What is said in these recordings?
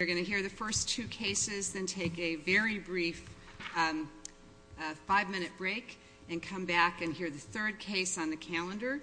You're going to hear the first two cases, then take a very brief five-minute break and come back and hear the third case on the calendar.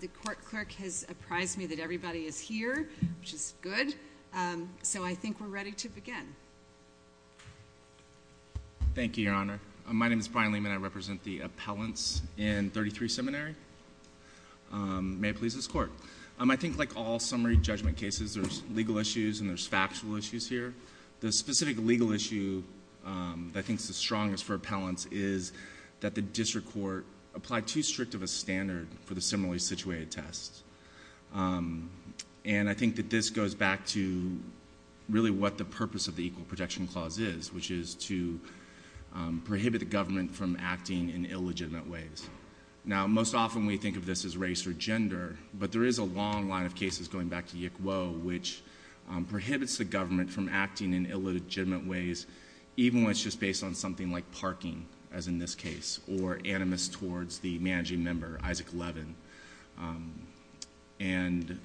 The court clerk has apprised me that everybody is here, which is good. So I think we're ready to begin. Thank you, Your Honor. My name is Brian Lehman. I represent the appellants in 33 Seminary. May it please this Court. I think like all summary judgment cases, there's legal issues and there's factual issues here. The specific legal issue that I think is the strongest for appellants is that the district court applied too strict of a standard for the similarly situated test. And I think that this goes back to really what the purpose of the Equal Protection Clause is, which is to prohibit the government from acting in illegitimate ways. Now, most often we think of this as race or gender, but there is a long line of prohibits the government from acting in illegitimate ways, even when it's just based on something like parking, as in this case, or animus towards the managing member, Isaac Levin. And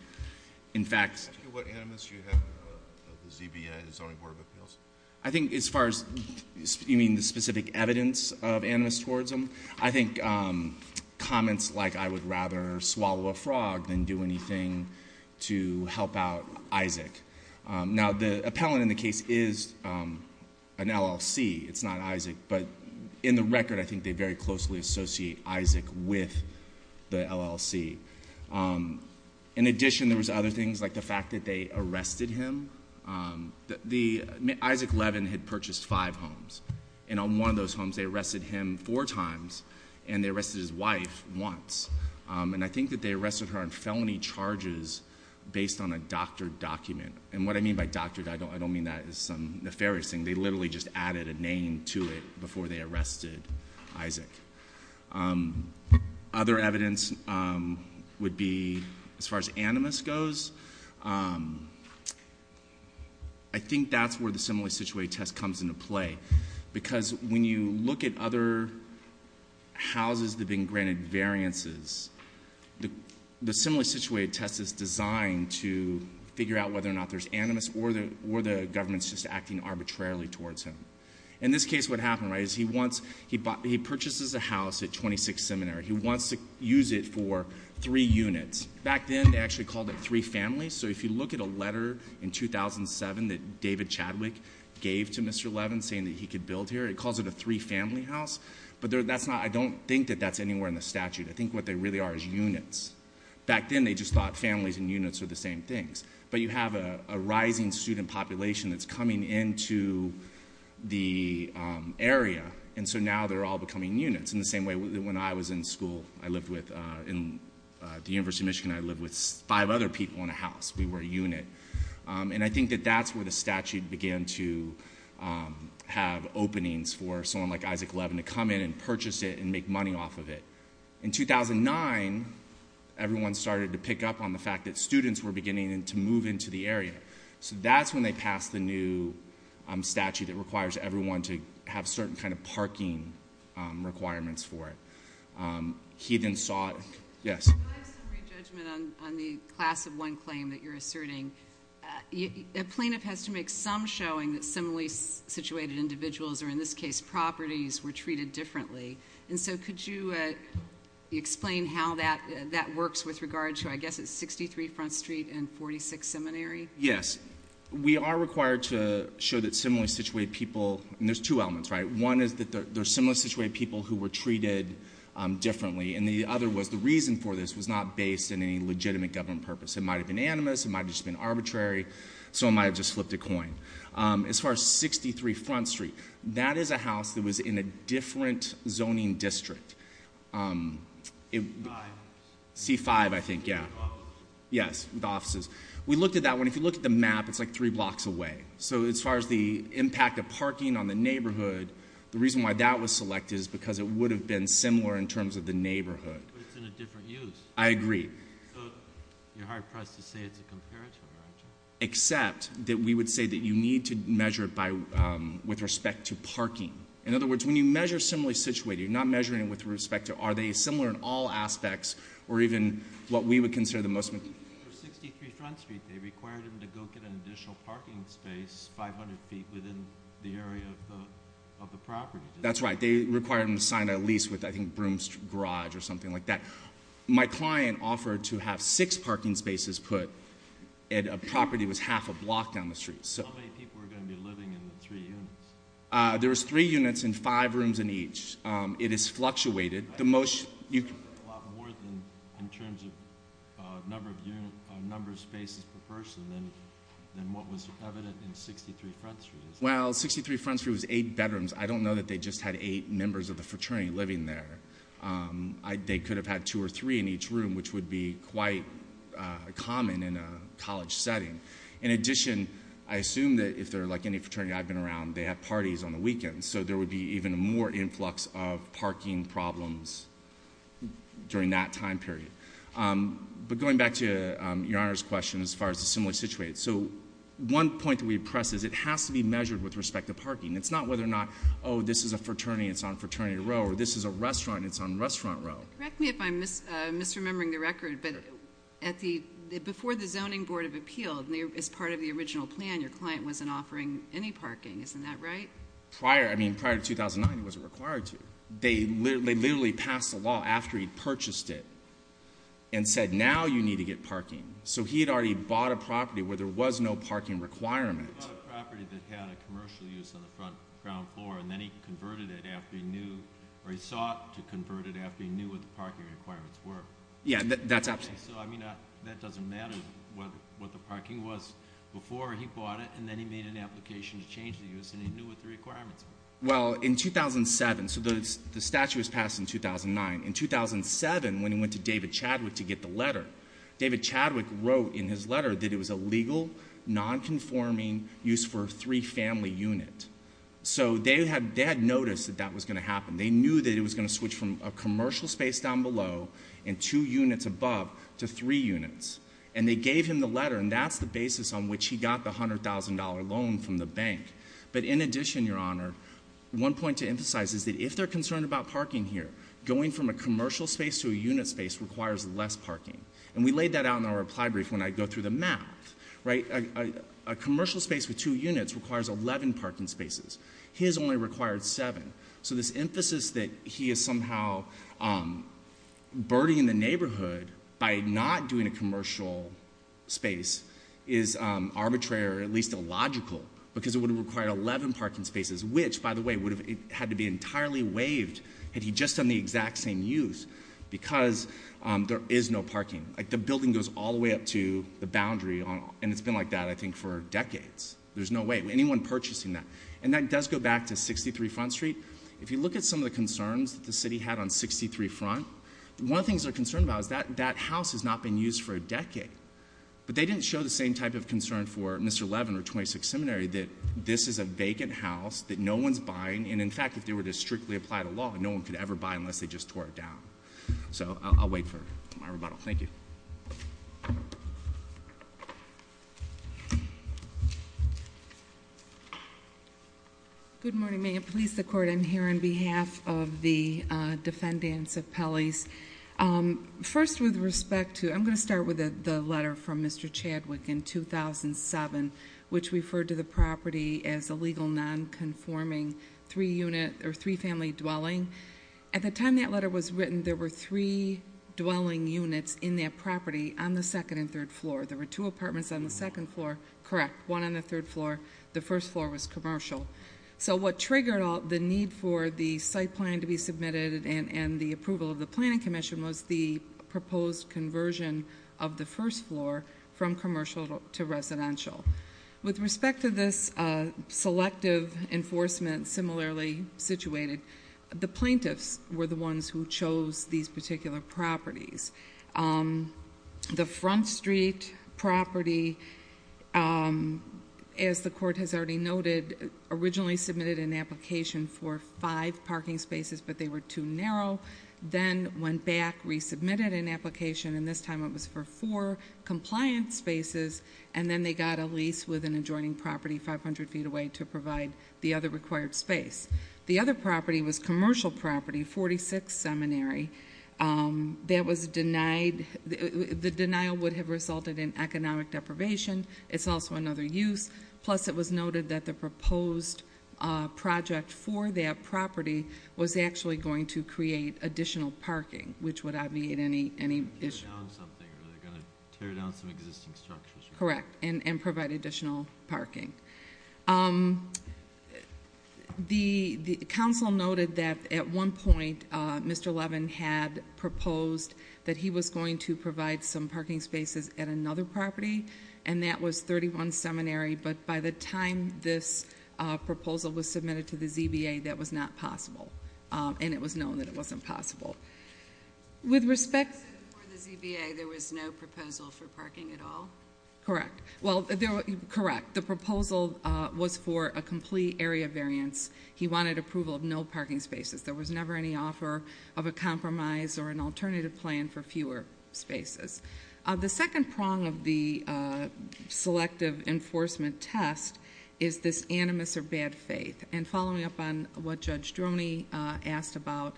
in fact— What animus do you have of the ZBI, the Zoning Board of Appeals? I think as far as—you mean the specific evidence of animus towards them? I think comments like, I would rather swallow a frog than do anything to help out Isaac. Now, the appellant in the case is an LLC. It's not Isaac. But in the record, I think they very closely associate Isaac with the LLC. In addition, there was other things like the fact that they arrested him. The—Isaac Levin had purchased five homes. And on one of those homes, they arrested him four times, and they arrested his wife once. And I think that they arrested her on felony charges based on a doctored document. And what I mean by doctored, I don't mean that as some nefarious thing. They literally just added a name to it before they arrested Isaac. Other evidence would be, as far as animus goes, I think that's where the simile situated test comes into play. Because when you look at other houses that have been granted variances, the simile situated test is designed to figure out whether or not there's animus or the government's just acting arbitrarily towards him. In this case, what happened, right, is he wants—he purchases a house at 26th Seminary. He wants to use it for three units. Back then, they actually called it three families. So if you look at a letter in 2007 that David Chadwick gave to Mr. Levin saying that he could build here, it calls it a three-family house. But that's not—I don't think that that's anywhere in the statute. I think what they really are is units. Back then, they just thought families and units were the same things. But you have a rising student population that's coming into the area, and so now they're all becoming units. In the same way, when I was in school, I lived with—at the University of Michigan, I lived with five other people in a house. We were a unit. And I think that that's where the statute began to have openings for someone like Isaac Levin to come in and purchase it and make money off of it. In 2009, everyone started to pick up on the fact that students were beginning to move into the area. So that's when they passed the new statute that requires everyone to have certain kind of parking requirements for it. He then saw—yes? I have some re-judgment on the class of one claim that you're asserting. A plaintiff has to make some showing that similarly situated individuals, or in this case, properties, were treated differently. And so could you explain how that works with regard to, I guess, 63 Front Street and 46 Seminary? Yes. We are required to show that similarly situated people—and there's two elements, right? One is that they're similarly situated people who were treated differently, and the other was the reason for this was not based on any legitimate government purpose. It might have been animus, it might have just been arbitrary, someone might have just flipped a coin. As far as 63 Front Street, that is a house that was in a different zoning district. C-5, I think, yeah. With offices. Yes, with offices. We looked at that. If you look at the map, it's like three blocks away. So as far as the impact of parking on the neighborhood, the reason why that was selected is because it would have been similar in terms of the neighborhood. But it's in a different use. I agree. So you're hard-pressed to say it's a comparative, aren't you? Except that we would say that you need to measure it with respect to parking. In other words, when you measure similarly situated, you're not measuring it with respect to are they similar in all aspects or even what we would consider the most— 63 Front Street, they required him to go get an additional parking space 500 feet within the area of the property. That's right. They required him to sign a lease with, I think, Broome's Garage or something like that. My client offered to have six parking spaces put, and a property was half a block down the street. How many people were going to be living in the three units? There was three units and five rooms in each. It is fluctuated. A lot more in terms of number of spaces per person than what was evident in 63 Front Street. Well, 63 Front Street was eight bedrooms. I don't know that they just had eight members of the fraternity living there. They could have had two or three in each room, which would be quite common in a college setting. In addition, I assume that if they're like any fraternity I've been around, they have more influx of parking problems during that time period. Going back to Your Honor's question as far as the similar situation, one point that we press is it has to be measured with respect to parking. It's not whether or not, oh, this is a fraternity and it's on Fraternity Row, or this is a restaurant and it's on Restaurant Row. Correct me if I'm misremembering the record, but before the Zoning Board of Appeal, as part of the original plan, your client wasn't offering any parking. Isn't that right? Prior, I mean prior to 2009, he wasn't required to. They literally passed a law after he purchased it and said, now you need to get parking. So he had already bought a property where there was no parking requirement. He bought a property that had a commercial use on the front ground floor, and then he converted it after he knew, or he sought to convert it after he knew what the parking requirements were. Yeah, that's absolutely. So, I mean, that doesn't matter what the parking was before he bought it, and then he made an application to change the use and he knew what the requirements were. Well, in 2007, so the statute was passed in 2009. In 2007, when he went to David Chadwick to get the letter, David Chadwick wrote in his letter that it was a legal, non-conforming use for a three-family unit. So they had noticed that that was going to happen. They knew that it was going to switch from a commercial space down below and two units above to three units. And they gave him the letter, and that's the basis on which he got the $100,000 loan from the bank. But in addition, Your Honor, one point to emphasize is that if they're concerned about parking here, going from a commercial space to a unit space requires less parking. And we laid that out in our reply brief when I go through the math, right? A commercial space with two units requires 11 parking spaces. His only required seven. So this emphasis that he is somehow birdying the neighborhood by not doing a commercial space is arbitrary or at least illogical because it would have required 11 parking spaces, which, by the way, would have had to be entirely waived had he just done the exact same use because there is no parking. The building goes all the way up to the boundary, and it's been like that, I think, for decades. There's no way anyone purchasing that. And that does go back to 63 Front Street. If you look at some of the concerns that the city had on 63 Front, one of the things they're concerned about is that that house has not been used for a decade. But they didn't show the same type of concern for Mr. Levin or 26th Seminary, that this is a vacant house that no one's buying. And in fact, if they were to strictly apply the law, no one could ever buy it unless they just tore it down. So I'll wait for my rebuttal. Thank you. Good morning, ma'am. Police, the court. I'm here on behalf of the defendants of Pelley's. First with respect to, I'm going to start with the letter from Mr. Chadwick in 2007, which referred to the property as a legal non-conforming three-family dwelling. At the time that letter was written, there were three dwelling units in that property on the second and third floor. There were two apartments on the second floor, correct, one on the third floor was commercial. So what triggered the need for the site plan to be submitted and the approval of the planning commission was the proposed conversion of the first floor from commercial to residential. With respect to this selective enforcement similarly situated, the plaintiffs were the ones who chose these particular properties. The Front Street property, as the court has already noted, originally submitted an application for five parking spaces but they were too narrow, then went back, resubmitted an application and this time it was for four compliant spaces and then they got a lease with an adjoining property 500 feet away to provide the other required space. The other property was commercial property, 46th Seminary. That was denied, the denial would have resulted in economic deprivation, it's also another use, plus it was noted that the proposed project for that property was actually going to create additional parking, which would obviate any issue. Correct, and provide additional parking. The council noted that at one point there was a proposal, Mr. Levin had proposed that he was going to provide some parking spaces at another property and that was 31th Seminary, but by the time this proposal was submitted to the ZBA that was not possible and it was known that it wasn't possible. With respect to the ZBA, there was no proposal for parking at all? Correct, the proposal was for a complete area variance. He wanted approval of no parking spaces. There was never any offer of a compromise or an alternative plan for fewer spaces. The second prong of the selective enforcement test is this animus or bad faith. And following up on what Judge Droney asked about,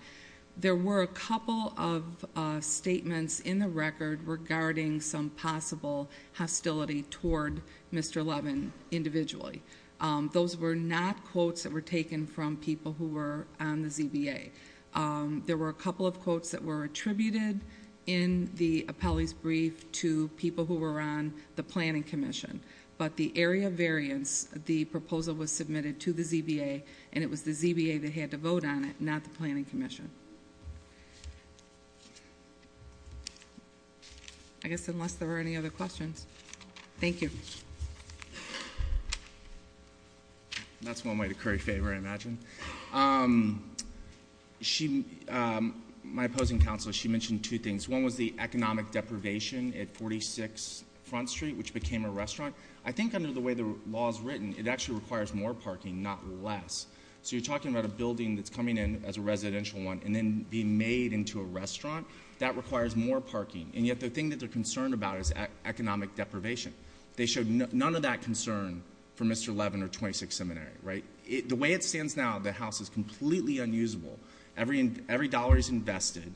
there were a couple of statements in the record regarding some possible hostility toward Mr. Levin individually. Those were not quotes that were taken from people who were on the ZBA. There were a couple of quotes that were attributed in the appellee's brief to people who were on the planning commission, but the area variance, the proposal was submitted to the ZBA and it was the ZBA that had to vote on it, not the planning commission. I guess unless there are any other questions. Thank you. That's one way to curry favor, I imagine. My opposing counsel, she mentioned two things. One was the economic deprivation at 46 Front Street, which became a restaurant. I think under the way the law is written, it actually requires more parking, not less. So you're talking about a building that's coming in as a residential one and then being made into a restaurant, that requires more parking. And yet the thing that they're concerned about is economic deprivation. They showed none of that concern for Mr. Levin or 26th Seminary. The way it stands now, the house is completely unusable. Every dollar is invested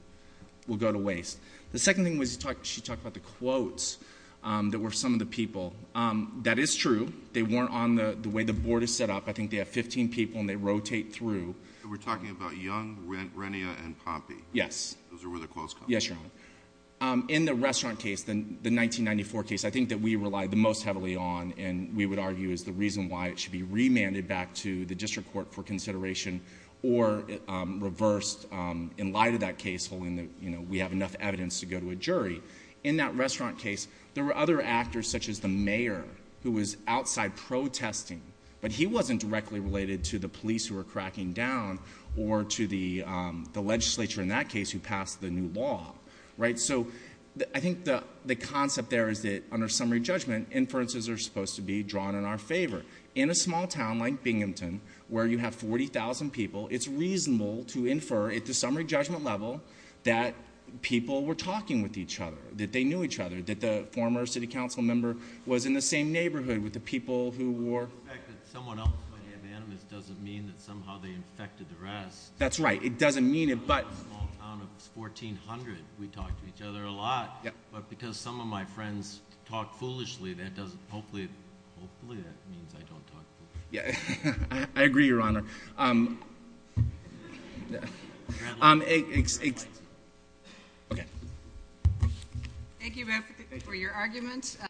will go to waste. The second thing was she talked about the quotes that were from some of the people. That is true. They weren't on the way the board is set up. I think they have 15 people and they rotate through. We're talking about Young, Renia, and Pompey. Those are where the quotes come from. Yes, Your Honor. In the restaurant case, the 1994 case, I think that we relied the most heavily on and we would argue is the reason why it should be remanded back to the district court for consideration or reversed in light of that case, holding that we have enough evidence to go to a jury. In that restaurant case, there were other actors such as the mayor who was outside protesting, but he wasn't directly related to the police who were cracking down or to the legislature in that case who passed the new law. I think the concept there is that, under summary judgment, inferences are supposed to be drawn in our favor. In a small town like Binghamton, where you have 40,000 people, it's reasonable to infer at the summary judgment level that people were talking with each other, that they knew each other, that the former city council member was in the same neighborhood with the people who were... The fact that someone else might have animus doesn't mean that somehow they infected the rest. That's right. It doesn't mean it, but... In a small town of 1,400, we talked to each other a lot, but because some of my friends talked foolishly, that doesn't... Hopefully that means I don't talk foolishly. I agree, Your Honor. Thank you both for your arguments.